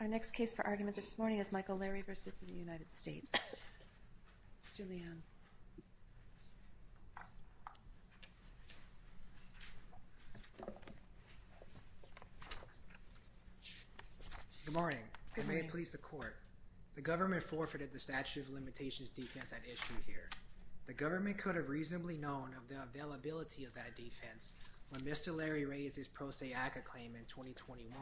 Our next case for argument this morning is Michael Lairy v. United States. Julian. Good morning and may it please the court. The government forfeited the statute of limitations defense at issue here. The government could have reasonably known of the availability of that defense when Mr. Lairy raised his pro se ACA claim in 2021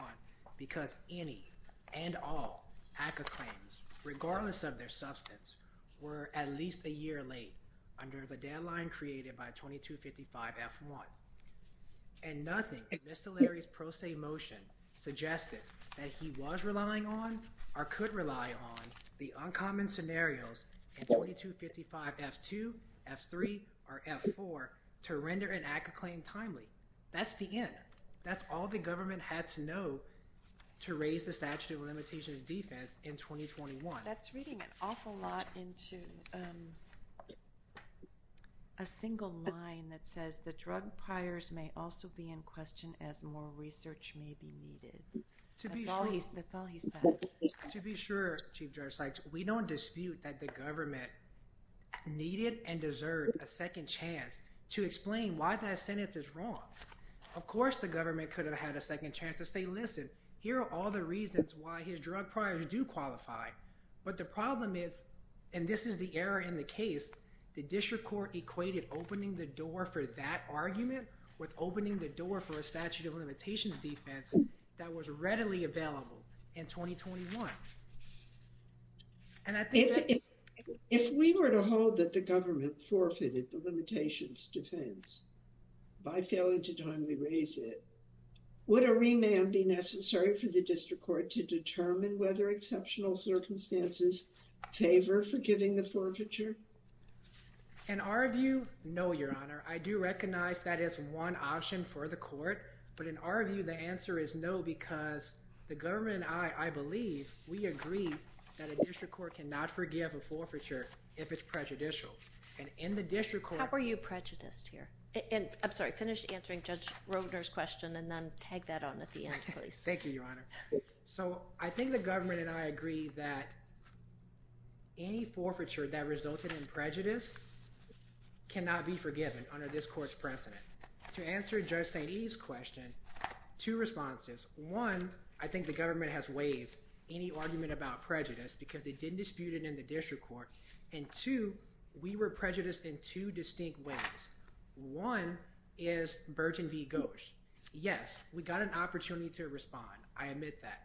because any and all ACA claims, regardless of their substance, were at least a year late under the deadline created by 2255 F1. And nothing in Mr. Lairy's pro se motion suggested that he was relying on or could rely on the uncommon scenarios in 2255 F2, F3, or F4 to render an ACA claim timely. That's the end. That's all the government had to know to raise the statute of limitations defense in 2021. That's reading an awful lot into a single line that says the drug priors may also be in question as more research may be needed. That's all he said. To be sure, Chief Judge Sykes, we don't dispute that the government needed and deserved a second chance to explain why that sentence is wrong. Of course the government could have had a second chance to say, listen, here are all the reasons why his drug priors do qualify. But the problem is, and this is the error in the case, the district court equated opening the door for that argument with opening the door for a statute of limitations defense that was readily available in 2021. And I think that's... If we were to hold that the government forfeited the limitations defense by failing to timely raise it, would a remand be necessary for the district court to determine whether exceptional circumstances favor forgiving the forfeiture? In our view, no, Your Honor. I do recognize that is one option for the court. But in our view, the answer is no, because the government and I, I believe we agree that a district court cannot forgive a forfeiture if it's prejudicial. And in the district court... How are you prejudiced here? I'm sorry, finish answering Judge Roedner's question and then tag that on at the end, please. Thank you, Your Honor. So I think the government and I agree that any forfeiture that resulted in prejudice cannot be forgiven under this court's precedent. To answer Judge St. Eve's question, two responses. One, I think the government has waived any argument about prejudice because they didn't dispute it in the district court. And two, we were prejudiced in two distinct ways. One is Burgeon v. Gosch. Yes, we got an opportunity to respond. I admit that.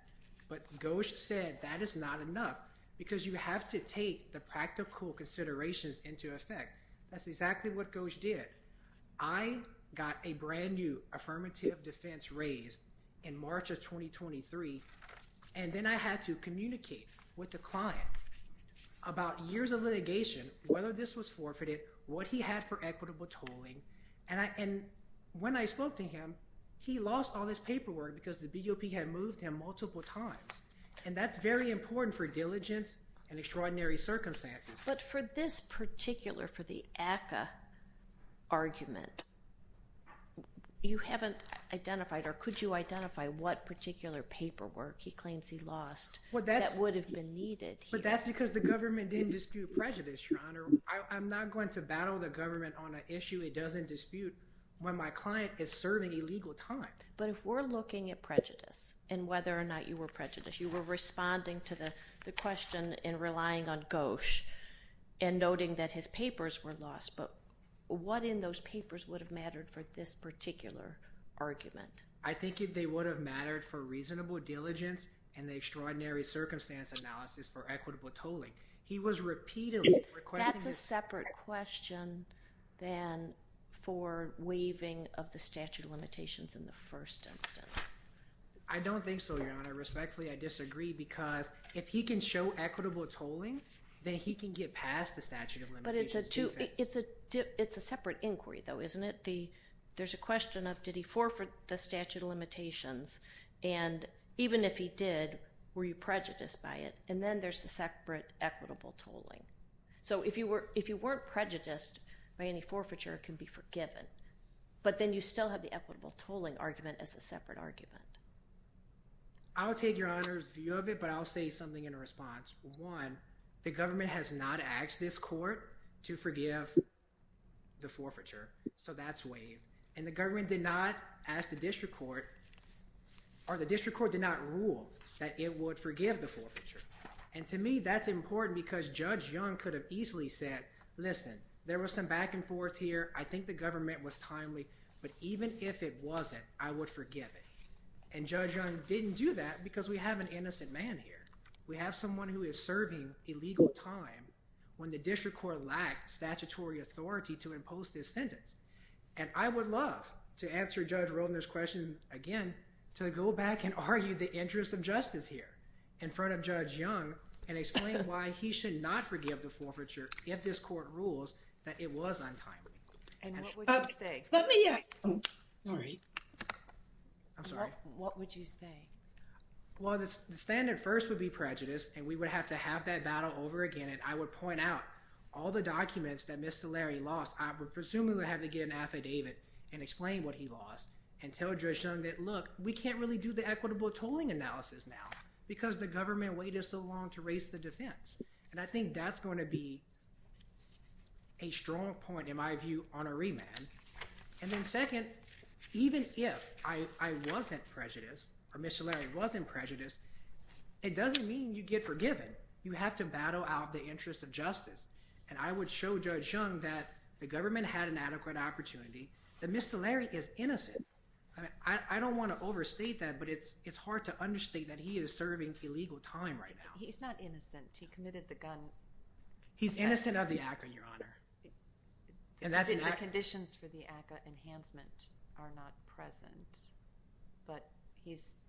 But Gosch said that is not enough because you have to take the practical considerations into effect. That's exactly what Gosch did. I got a brand new affirmative defense raised in March of 2023, and then I had to communicate with the client about years of litigation, whether this was what he had for equitable tolling. And when I spoke to him, he lost all his paperwork because the BOP had moved him multiple times. And that's very important for diligence and extraordinary circumstances. But for this particular, for the ACCA argument, you haven't identified or could you identify what particular paperwork he claims he lost that would have been needed? But that's because the government didn't dispute prejudice, Your Honor. I'm not going to battle the government on an issue it doesn't dispute when my client is serving a legal time. But if we're looking at prejudice and whether or not you were prejudiced, you were responding to the question and relying on Gosch and noting that his papers were lost. But what in those papers would have mattered for this particular argument? I think they would have mattered for reasonable diligence and the equitable tolling. He was repeatedly requesting. That's a separate question than for waiving of the statute of limitations in the first instance. I don't think so, Your Honor. Respectfully, I disagree because if he can show equitable tolling, then he can get past the statute of limitations. But it's a separate inquiry though, isn't it? There's a question of did he forfeit the statute of limitations? And even if he did, were you prejudiced by it? And then there's the separate equitable tolling. So if you weren't prejudiced by any forfeiture, it can be forgiven. But then you still have the equitable tolling argument as a separate argument. I'll take Your Honor's view of it, but I'll say something in response. One, the government has not asked this court to forgive the forfeiture. So that's waived. And the government did not ask the district court or the district court did not rule that it would forgive the forfeiture. And to me, that's important because Judge Young could have easily said, listen, there was some back and forth here. I think the government was timely. But even if it wasn't, I would forgive it. And Judge Young didn't do that because we have an innocent man here. We have someone who is serving illegal time when the district court lacked statutory authority to impose this sentence. And I would love to answer Judge Roedner's question again, to go back and argue the interest of justice here in front of Judge Young and explain why he should not forgive the forfeiture if this court rules that it was untimely. And what would you say? Let me, yeah. All right. I'm sorry. What would you say? Well, the standard first would be prejudice. And we would have to have that battle over again. And I would point out all the documents that Ms. Szilard would presumably have to get an affidavit and explain what he lost and tell Judge Young that, look, we can't really do the equitable tolling analysis now because the government waited so long to raise the defense. And I think that's going to be a strong point, in my view, on a remand. And then second, even if I wasn't prejudiced or Ms. Szilard wasn't prejudiced, it doesn't mean you get forgiven. You have to battle out the interest of justice. And I would show Judge Young that the government had an adequate opportunity, that Ms. Szilard is innocent. I don't want to overstate that, but it's hard to understate that he is serving illegal time right now. He's not innocent. He committed the gun offense. He's innocent of the ACA, Your Honor. And the conditions for the ACA enhancement are not present. But he's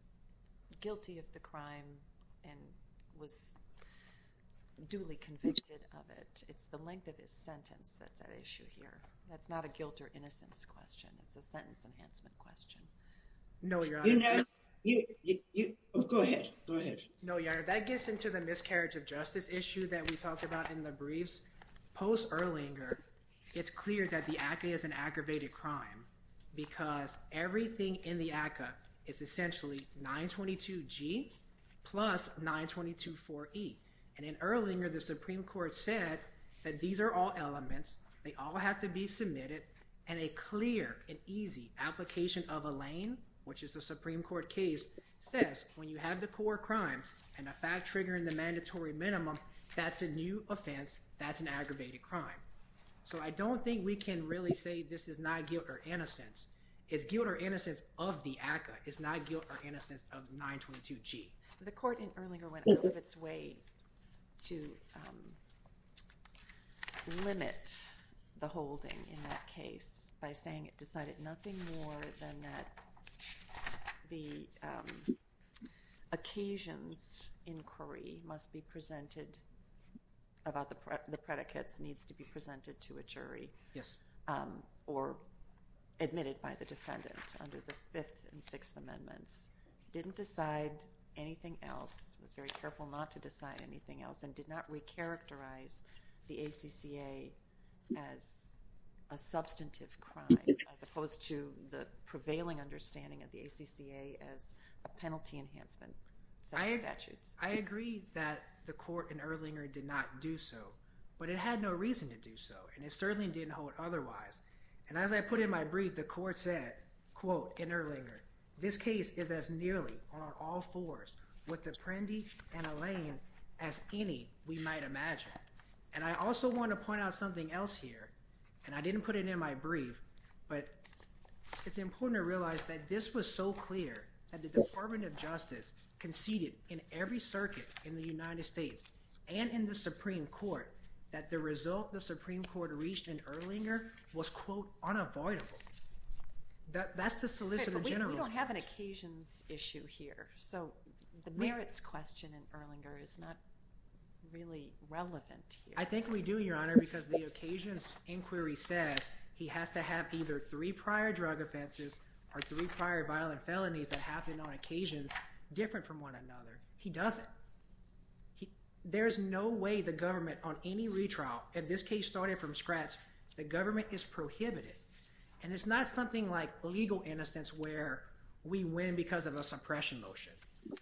guilty of the crime and was duly convicted of it. It's the length of his sentence that's at issue here. That's not a guilt or innocence question. It's a sentence enhancement question. No, Your Honor. Go ahead. Go ahead. No, Your Honor. That gets into the miscarriage of justice issue that we talked about in the briefs. Post Erlanger, it's clear that the ACA is an aggravated crime because everything in the ACA is essentially 922G plus 9224E. And in Erlanger, the Supreme Court said that these are all elements. They all have to be submitted. And a clear and easy application of a lane, which is the Supreme Court case, says when you have the core crime and a fact triggering the mandatory minimum, that's a new offense. That's an aggravated crime. So I don't think we can really say this is not guilt or innocence. It's guilt or innocence of the ACA. It's not guilt or innocence of 922G. The court in Erlanger went out of its way to limit the holding in that case by saying it decided nothing more than that the occasions inquiry must be presented about the predicates needs to be presented to a jury or admitted by the defendant under the Fifth and Sixth Amendments, didn't decide anything else, was very careful not to decide anything else, and did not recharacterize the ACCA as a substantive crime as opposed to the prevailing understanding of the ACCA as a penalty enhancement statute. I agree that the court in Erlanger did not do so, but it had no reason to do so, and it certainly didn't hold otherwise. And as I put in my brief, the court said, quote, in Erlanger, this case is as nearly on all fours with the Prendi and a lane as any we might imagine. And I also want to point out something else here, and I didn't put it in my brief, but it's important to realize that this was so clear that the Department of Justice conceded in every circuit in the United States and in the Supreme Court that the result the Supreme Court reached in Erlanger was, quote, unavoidable. That's the solicitor general's We don't have an occasions issue here, so the merits question in Erlanger is not really relevant. I think we do, Your Honor, because the occasions inquiry said he has to have either three prior drug offenses or three prior violent felonies that happened on occasions different from one another. He doesn't. There's no way the government on any retrial, if this case started from scratch, the government is prohibited. And it's not something like legal innocence where we win because of a suppression motion,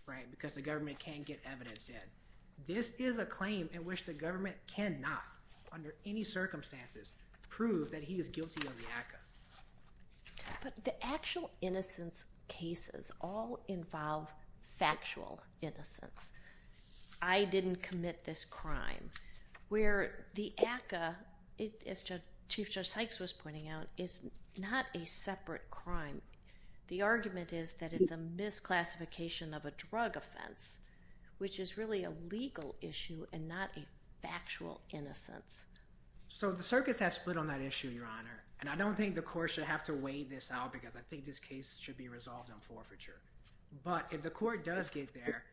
right, because the government can't get evidence in. This is a claim in which the government cannot, under any circumstances, prove that he is guilty of the ACCA. But the actual innocence cases all involve factual innocence. I didn't commit this crime. Where the ACCA, as Chief Judge Sykes was pointing out, is not a separate crime. The argument is that it's a misclassification of a drug offense, which is really a legal issue and not a factual innocence. So the circuits have split on that issue, Your Honor, and I don't think the court should have to weigh this out because I think this case should be resolved on forfeiture. But if the court does get there,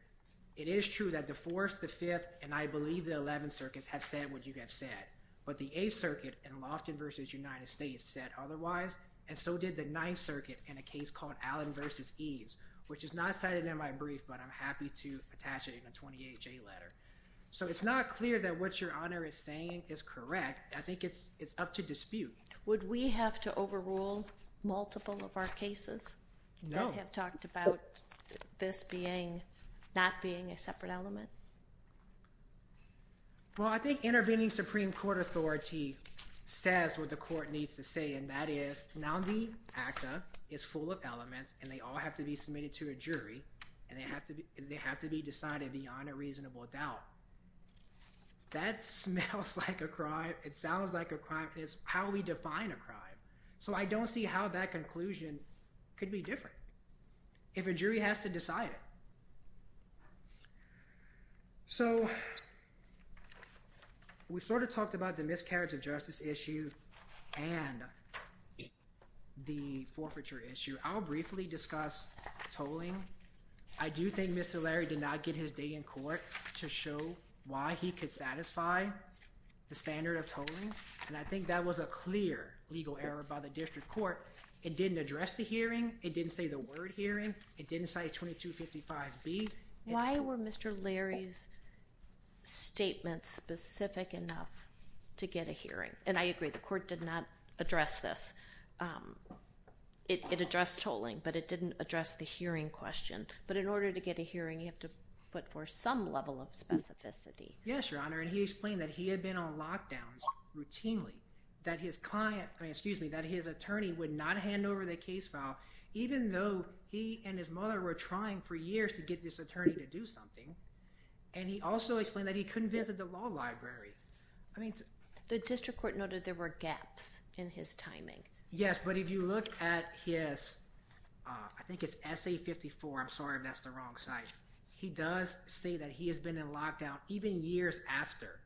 it is true that the Fourth, the Fifth, and I believe the Eleventh Circuits have said what you have said. But the Eighth Circuit in Lofton v. United States said otherwise, and so did the Ninth Circuit in a case called Allen v. Eves, which is not cited in my brief, but I'm happy to attach it in a 28-J letter. So it's not clear that what Your Honor is saying is correct. I think it's up to dispute. Would we have to overrule multiple of our cases that have talked about this not being a separate element? Well, I think intervening Supreme Court authority says what the court needs to say, and that is the founding actor is full of elements and they all have to be submitted to a jury, and they have to be decided beyond a reasonable doubt. That smells like a crime. It sounds like a crime. It's how we define a crime. So I don't see how that conclusion could be different if a jury has to decide it. So we sort of talked about the miscarriage of justice issue and the forfeiture issue. I'll briefly discuss tolling. I do think Mr. Larry did not get his day in court to show why he could satisfy the standard of tolling, and I think that was a clear legal error by the district court. It didn't address the hearing. It didn't say the word hearing. It didn't say 2255B. Why were Mr. Larry's statements specific enough to get a hearing? And I agree. The court did not address this. It addressed tolling, but it didn't address the hearing question. But in order to get a hearing, you have to put forth some level of specificity. Yes, Your Honor. And he explained that he had been on lockdowns routinely, that his attorney would not hand over the case file, even though he and his mother were trying for years to get this attorney to do something. And he also explained that he couldn't visit the law library. I mean, the district court noted there were gaps in his timing. Yes, but if you look at his, I think it's SA 54. I'm sorry if that's the wrong site. He does say that he has been in lockdown even years after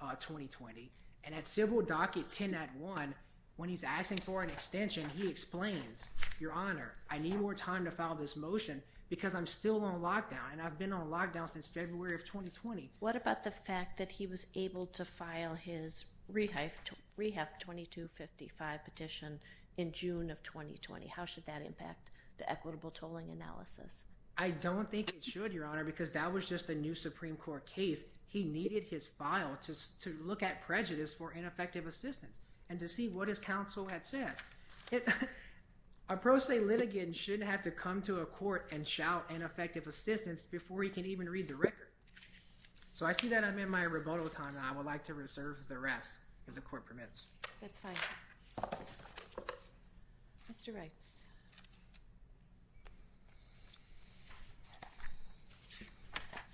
2020. And at civil docket 10 at one, when he's asking for an extension, he explains, Your Honor, I need more time to file this motion because I'm still on lockdown. And I've been on lockdown since February of 2020. What about the fact that he was able to file his rehab 2255 petition in June of 2020? How should that impact the equitable tolling analysis? I don't think it should, Your Honor, because that was just a new Supreme Court case. He needed his file to look at prejudice for ineffective assistance and to see what his counsel had said. A pro se litigant shouldn't have to come to a court and shout ineffective assistance before he can even read the record. So I see that I'm in my rebuttal time. I would like to reserve the rest if the court permits. That's fine. Mr. Wright.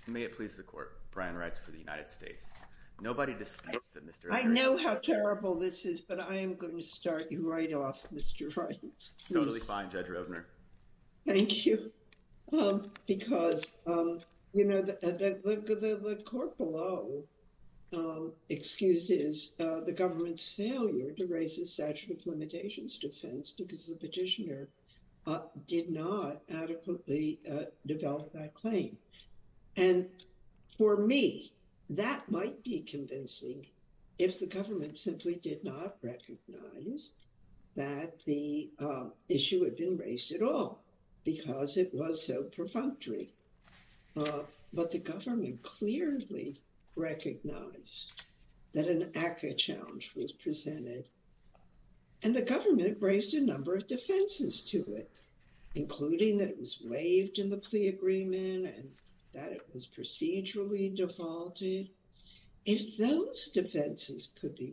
May it please the court. Brian writes for the United States. Nobody disputes that Mr. I know how terrible this is, but I am going to start you right off, Mr. Wright. Totally fine, Judge Roebner. Thank you. Because, you know, the court below excuses the government's failure to raise the statute of limitations defense because the petitioner did not adequately develop that claim. And for me, that might be convincing. If the government simply did not recognize that the issue had been raised at all because it was so perfunctory. But the government clearly recognized that an ACCA challenge was presented and the government raised a number of defenses to it, including that it was waived in the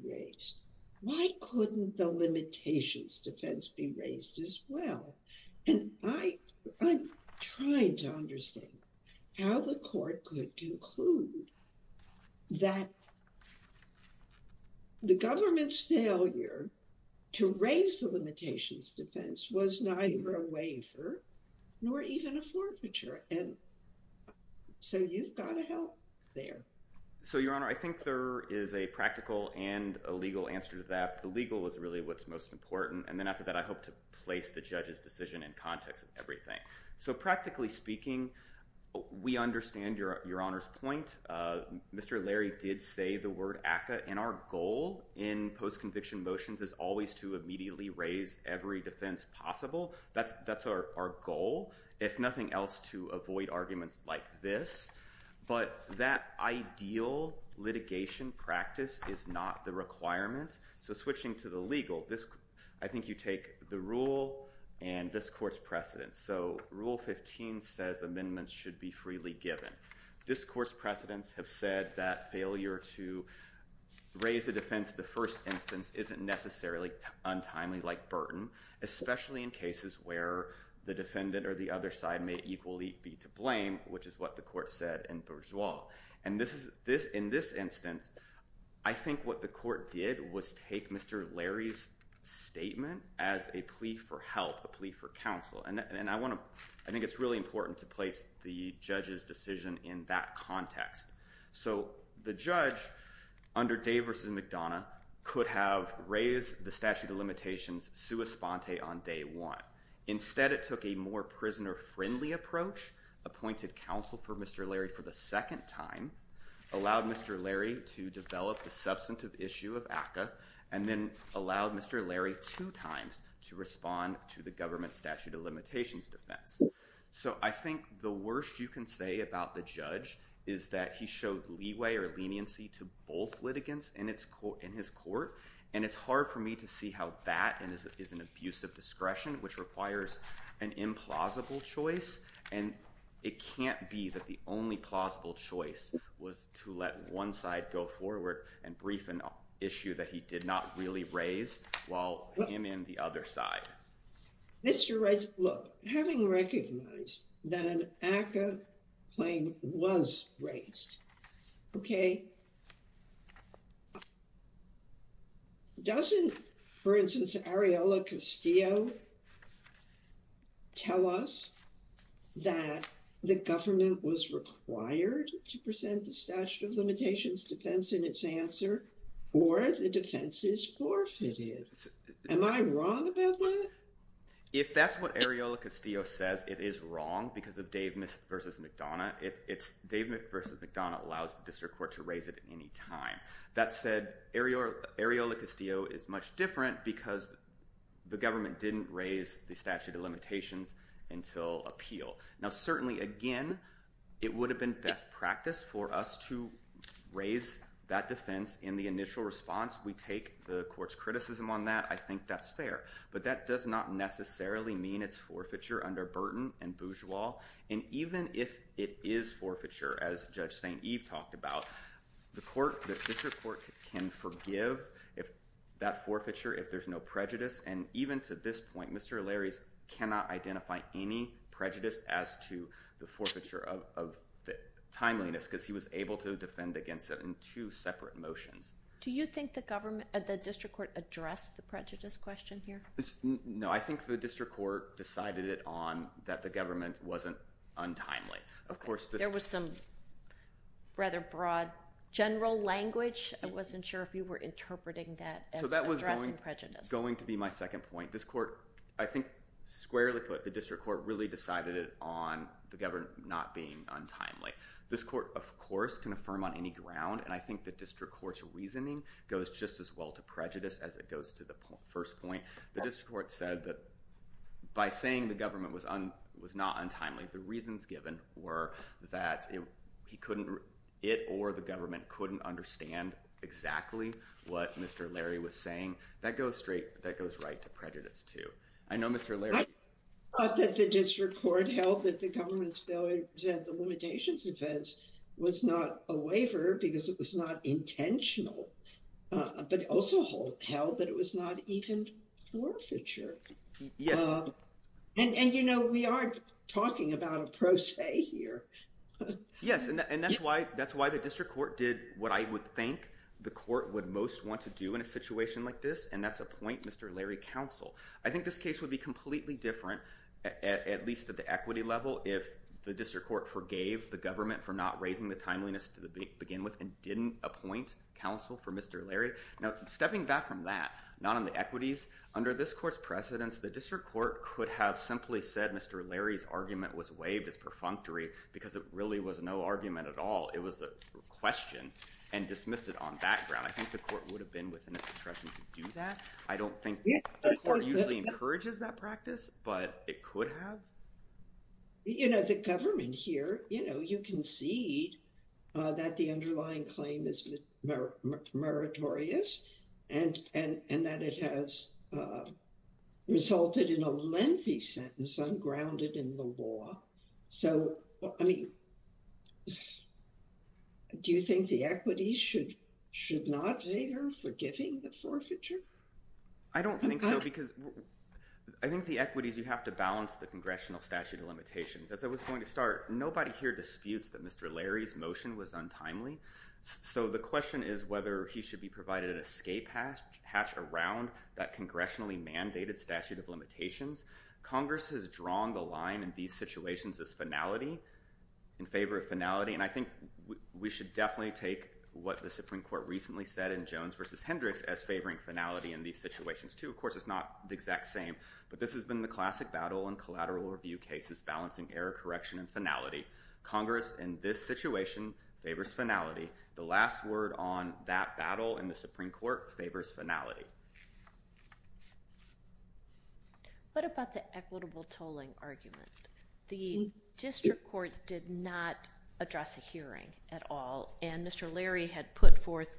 case. Why couldn't the limitations defense be raised as well? And I'm trying to understand how the court could conclude that the government's failure to raise the limitations defense was neither a waiver nor even a forfeiture. And so you've got to help there. So, Your Honor, I think there is a practical and a legal answer to that. The legal is really what's most important. And then after that, I hope to place the judge's decision in context of everything. So practically speaking, we understand Your Honor's point. Mr. Larry did say the word ACCA. And our goal in post-conviction motions is always to immediately raise every defense possible. That's our goal. If nothing else, to avoid arguments like this. But that ideal litigation practice is not the requirement. So switching to the legal, I think you take the rule and this court's precedent. So Rule 15 says amendments should be freely given. This court's precedents have said that failure to raise a defense in the first instance isn't necessarily untimely like burden, especially in cases where the defendant or the other side may equally be to blame, which is what the court said in Bourgeois. And in this instance, I think what the court did was take Mr. Larry's statement as a plea for help, a plea for counsel. And I think it's really important to place the judge's decision in that context. So the judge under Day v. McDonough could have raised the statute of limitations sua sponte on day one. Instead, it took a more prisoner-friendly approach, appointed counsel for Mr. Larry for the second time, allowed Mr. Larry to develop the substantive issue of ACCA, and then allowed Mr. Larry two times to respond to the government statute of limitations defense. So I think the worst you can say about the judge is that he showed leeway or leniency to both litigants in his court. And it's hard for me to see how that is an abuse of discretion, which requires an implausible choice. And it can't be that the only plausible choice was to let one side go forward and brief an issue that he did not really raise while him and the other side. Mr. Wright, look, having recognized that an ACCA claim was raised, okay, doesn't, for instance, Ariella Castillo tell us that the government was required to present the statute of limitations defense in its answer or the defense is forfeited? Am I wrong about that? If that's what Ariella Castillo says, it is wrong because of Dave versus McDonough. Dave versus McDonough allows the district court to raise it any time. That said, Ariella Castillo is much different because the government didn't raise the statute of limitations until appeal. Now, certainly, again, it would have been best practice for us to raise that defense in the initial response. We take the court's criticism on that. I think that's fair. But that does not necessarily mean it's forfeiture under Burton and Bourgeois. And even if it is forfeiture, as Judge St. Eve talked about, the district court can forgive that forfeiture if there's no prejudice. And even to this point, Mr. Larrys cannot identify any prejudice as to forfeiture of timeliness because he was able to defend against it in two separate motions. Do you think the district court addressed the prejudice question here? No, I think the district court decided it on that the government wasn't untimely. Of course, there was some rather broad general language. I wasn't sure if you were interpreting that as addressing prejudice. That was going to be my second point. I think squarely put, the district court really decided it on the government not being untimely. This court, of course, can affirm on any ground. And I think the district court's reasoning goes just as well to prejudice as it goes to the first point. The district court said that by saying the government was not untimely, the reasons given were that it or the government couldn't understand exactly what Mr. Larry was saying. That goes right to prejudice, too. I thought that the district court held that the government's failure to defend the limitations defense was not a waiver because it was not intentional, but also held that it was not even forfeiture. And we are talking about a pro se here. Yes, and that's why the district court did what I would think the court would most want to do in a situation like this, and that's appoint Mr. Larry counsel. I think this case would be completely different, at least at the equity level, if the district court forgave the government for not raising the timeliness to begin with and didn't appoint counsel for Mr. Larry. Now, stepping back from that, not on the equities, under this court's precedence, the district court could have simply said Mr. Larry's argument was waived as perfunctory because it really was no argument at all. It was a question and dismissed it on that ground. I think the court would have been within its discretion to do that. I don't think the court usually encourages that practice, but it could have. You know, the government here, you know, you can see that the underlying claim is meritorious and that it has resulted in a lengthy sentence ungrounded in the law. So, I mean, do you think the equities should not favor forgiving the forfeiture? I don't think so, because I think the equities, you have to balance the congressional statute of limitations. As I was going to start, nobody here disputes that Mr. Larry's motion was untimely. So, the question is whether he should be provided an escape hatch around that congressionally mandated statute of limitations. Congress has drawn the line in these situations as finality, in favor of finality, and I think we should definitely take what the Supreme Court recently said in Jones v. Hendricks as favoring finality in these situations, too. Of course, it's not the exact same, but this has been the classic battle in collateral review cases, balancing error correction and finality. Congress in this situation favors finality. The last word on that battle in the Supreme Court favors finality. What about the equitable tolling argument? The district court did not address a hearing at all, and Mr. Larry had put forth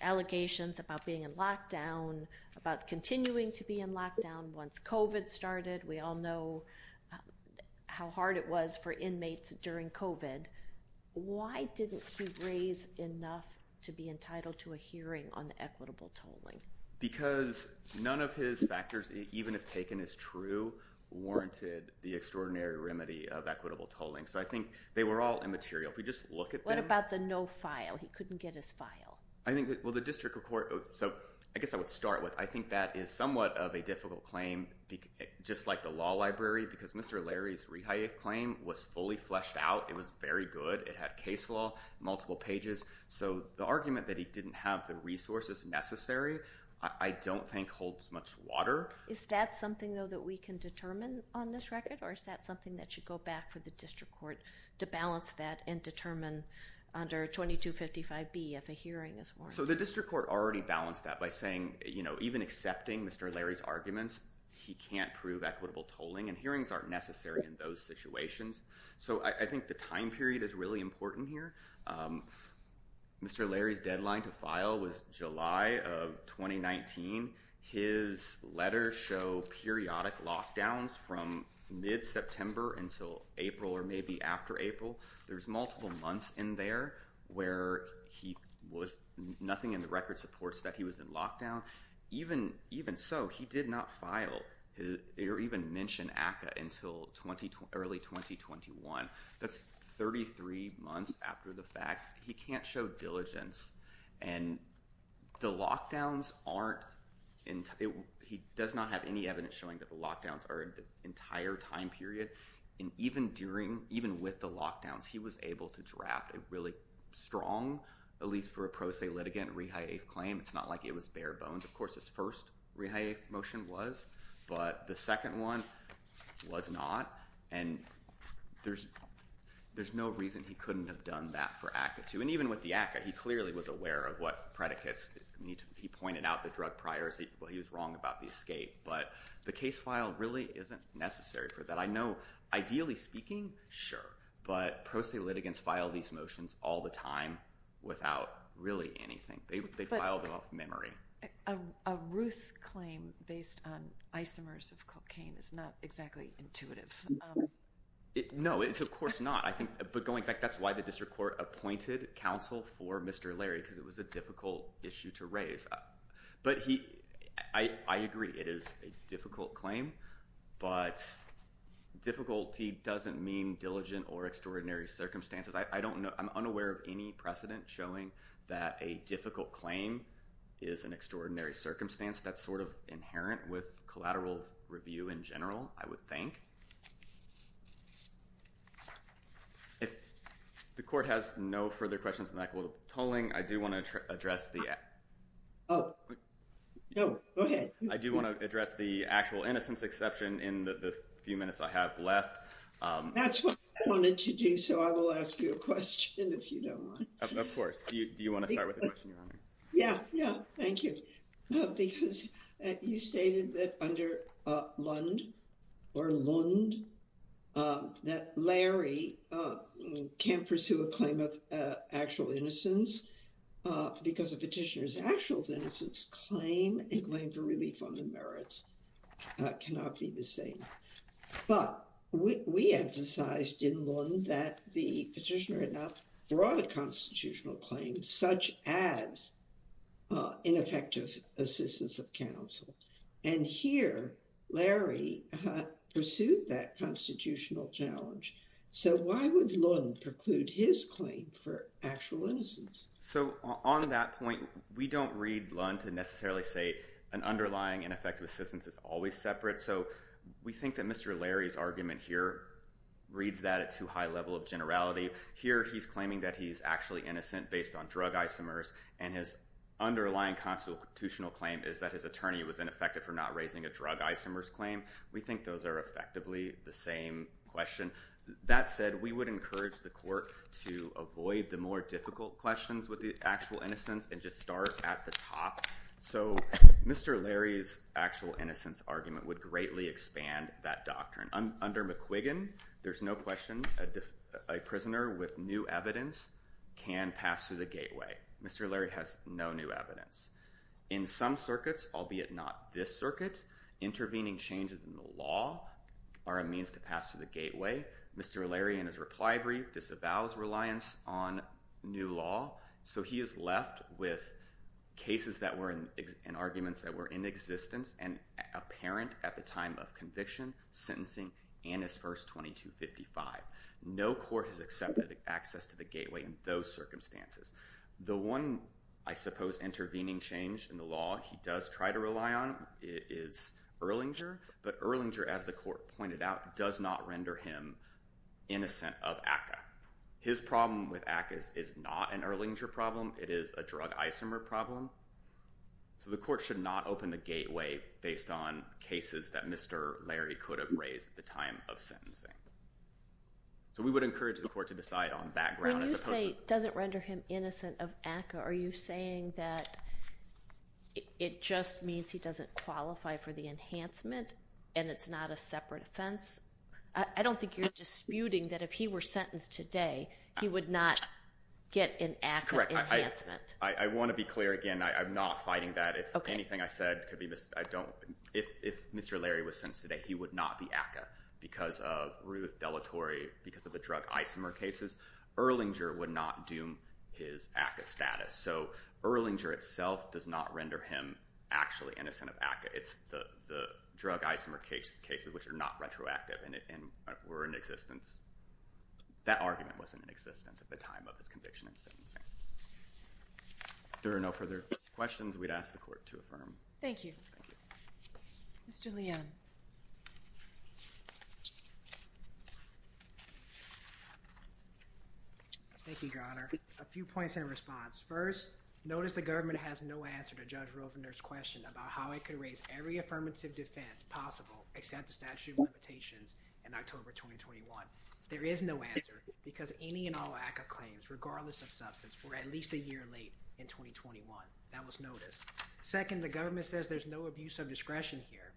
allegations about being in lockdown, about continuing to be in lockdown once COVID started. We all know how hard it was for inmates during COVID. Why didn't he raise enough to be entitled to a hearing on equitable tolling? Because none of his factors, even if taken as true, warranted the extraordinary remedy of equitable tolling. So, I think they were all immaterial. If we just look at them. What about the no file? He couldn't get his file. I think that, well, the district court, so I guess I would start with, I think that is somewhat of a difficult claim, just like the law library, because Mr. Larry's rehire claim was fully fleshed out. It was very good. It had case law, multiple pages. So, the argument that he didn't have the resources necessary, I don't think holds much water. Is that something, though, that we can determine on this record, or is that something that should go back for the district court to balance that and determine under 2255B if a hearing is warranted? The district court already balanced that by saying even accepting Mr. Larry's arguments, he can't prove equitable tolling, and hearings aren't necessary in those situations. So, I think the time period is really important here. Mr. Larry's deadline to file was July of 2019. His letters show periodic lockdowns from mid-September until April or maybe after April. There's multiple months in there where he was, nothing in the record supports that he was in lockdown. Even so, he did not file or even mention ACCA until early 2021. That's 33 months after the fact. He can't show diligence, and the lockdowns aren't, he does not have any evidence showing that the entire time period, and even during, even with the lockdowns, he was able to draft a really strong, at least for a pro se litigant, re-hiathe claim. It's not like it was bare bones. Of course, his first re-hiathe motion was, but the second one was not, and there's no reason he couldn't have done that for ACCA too. And even with the ACCA, he clearly was aware of what predicates he pointed out, the drug priors. He was wrong about the escape, but the case file really isn't necessary for that. I know, ideally speaking, sure, but pro se litigants file these motions all the time without really anything. They filed off memory. A Ruth claim based on isomers of cocaine is not exactly intuitive. No, it's of course not. I think, but going back, that's why the district court appointed counsel for Mr. Larry, because it was a difficult issue to raise. But I agree, it is a difficult claim, but difficulty doesn't mean diligent or extraordinary circumstances. I don't know, I'm unaware of any precedent showing that a difficult claim is an extraordinary circumstance that's sort of inherent with collateral review in general, I would think. If the court has no further questions on equitable tolling, I do want to address the... Oh, no, go ahead. I do want to address the actual innocence exception in the few minutes I have left. That's what I wanted to do, so I will ask you a question if you don't mind. Of course. Do you want to start with the question? Yeah, yeah, thank you. Because you stated that under Lund, or Lund, that Larry can't pursue a claim of actual innocence because a petitioner's actual innocence claim, a claim for relief on the merits, cannot be the same. But we emphasized in Lund that the petitioner had not brought a such as ineffective assistance of counsel. And here, Larry pursued that constitutional challenge. So why would Lund preclude his claim for actual innocence? So on that point, we don't read Lund to necessarily say an underlying ineffective assistance is always separate. So we think that Mr. Larry's argument here reads that at too high a level of generality. Here, he's claiming that he's actually innocent based on drug isomers, and his underlying constitutional claim is that his attorney was ineffective for not raising a drug isomers claim. We think those are effectively the same question. That said, we would encourage the court to avoid the more difficult questions with the actual innocence and just start at the top. So Mr. Larry's actual innocence argument would greatly expand that doctrine. Under McQuiggan, there's no question a prisoner with new evidence can pass through the gateway. Mr. Larry has no new evidence. In some circuits, albeit not this circuit, intervening changes in the law are a means to pass through the gateway. Mr. Larry, in his reply brief, disavows reliance on new law. So he is left with cases and arguments that were in existence and apparent at the time of conviction, sentencing, and his first 2255. No court has accepted access to the gateway in those circumstances. The one, I suppose, intervening change in the law he does try to rely on is Erlinger, but Erlinger, as the court pointed out, does not render him innocent of ACCA. His problem with ACCA is not an Erlinger problem. It is a drug isomer problem. So the court should not open the gateway based on cases that Mr. Larry could have raised at the time of sentencing. So we would encourage the court to decide on background. When you say doesn't render him innocent of ACCA, are you saying that it just means he doesn't qualify for the enhancement and it's not a separate offense? I don't think you're disputing that if he were sentenced today, he would not get an ACCA enhancement. Correct. I want to be clear again. I'm not fighting that. If anything I said could be missed, I don't. If Mr. Larry was sentenced today, he would not be ACCA because of Ruth Delatory, because of the drug isomer cases. Erlinger would not do his ACCA status. So Erlinger itself does not render him actually innocent of ACCA. It's the drug isomer cases, which are not retroactive and were in existence. That argument wasn't in existence at the time of his conviction and sentencing. There are no further questions. We'd ask the court to affirm. Thank you. Mr. Leanne. Thank you, Your Honor. A few points in response. First, notice the government has no answer to Judge Rosener's question about how it could raise every affirmative defense possible, except the statute of limitations in October 2021. There is no answer because any and all ACCA claims, regardless of substance, were at least a year late in 2021. That was noticed. Second, the government says there's no abuse of discretion here.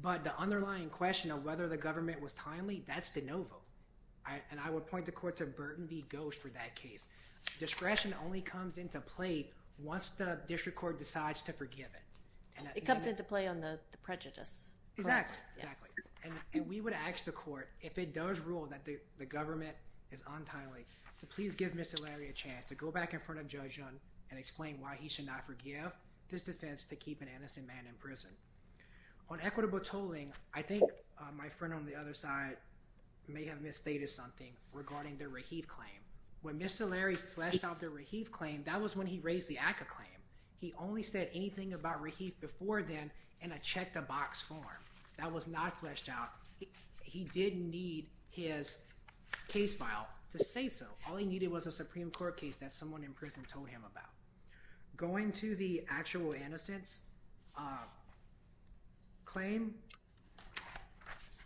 But the underlying question of whether the government was timely, that's de novo. And I would point the court to Burton v. Ghosh for that case. Discretion only comes into play once the district court decides to forgive it. It comes into play on the prejudice. Exactly. Exactly. And we would ask the court, if it does rule that the government is untimely, to please give Mr. Larry a chance to go back in front of Judge Young and explain why he should not forgive this defense to keep an innocent man in prison. On equitable tolling, I think my friend on the other side may have misstated something regarding the Raheith claim. When Mr. Larry fleshed out the Raheith claim, that was when he raised the ACCA claim. He only said anything about Raheith before then in a check the box form. That was not fleshed out. He didn't need his case file to say so. All he needed was a Supreme Court case that someone in prison told him about. Going to the actual innocence claim,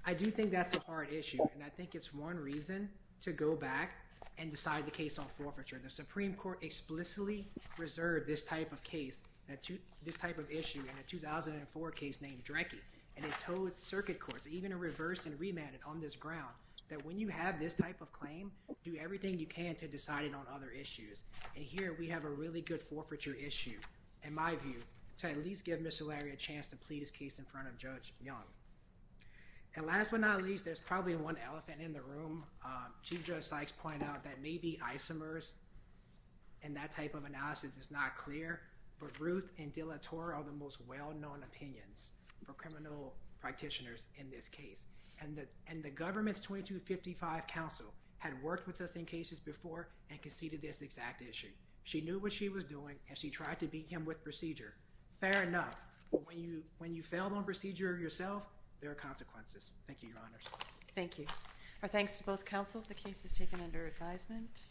I do think that's a hard issue. And I Supreme Court explicitly reserved this type of case, this type of issue in a 2004 case named Drecke. And it told circuit courts, even a reverse and remanded on this ground, that when you have this type of claim, do everything you can to decide it on other issues. And here we have a really good forfeiture issue, in my view, to at least give Mr. Larry a chance to plead his case in front of Judge Young. And last but not least, there's probably one elephant in the room. Chief Judge Sykes pointed out that maybe isomers and that type of analysis is not clear. But Ruth and Della Torre are the most well-known opinions for criminal practitioners in this case. And the government's 2255 counsel had worked with us in cases before and conceded this exact issue. She knew what she was doing, and she tried to beat him with procedure. Fair enough. But when you don't proceed yourself, there are consequences. Thank you, Your Honors. Thank you. Our thanks to both counsel. The case is taken under advisement.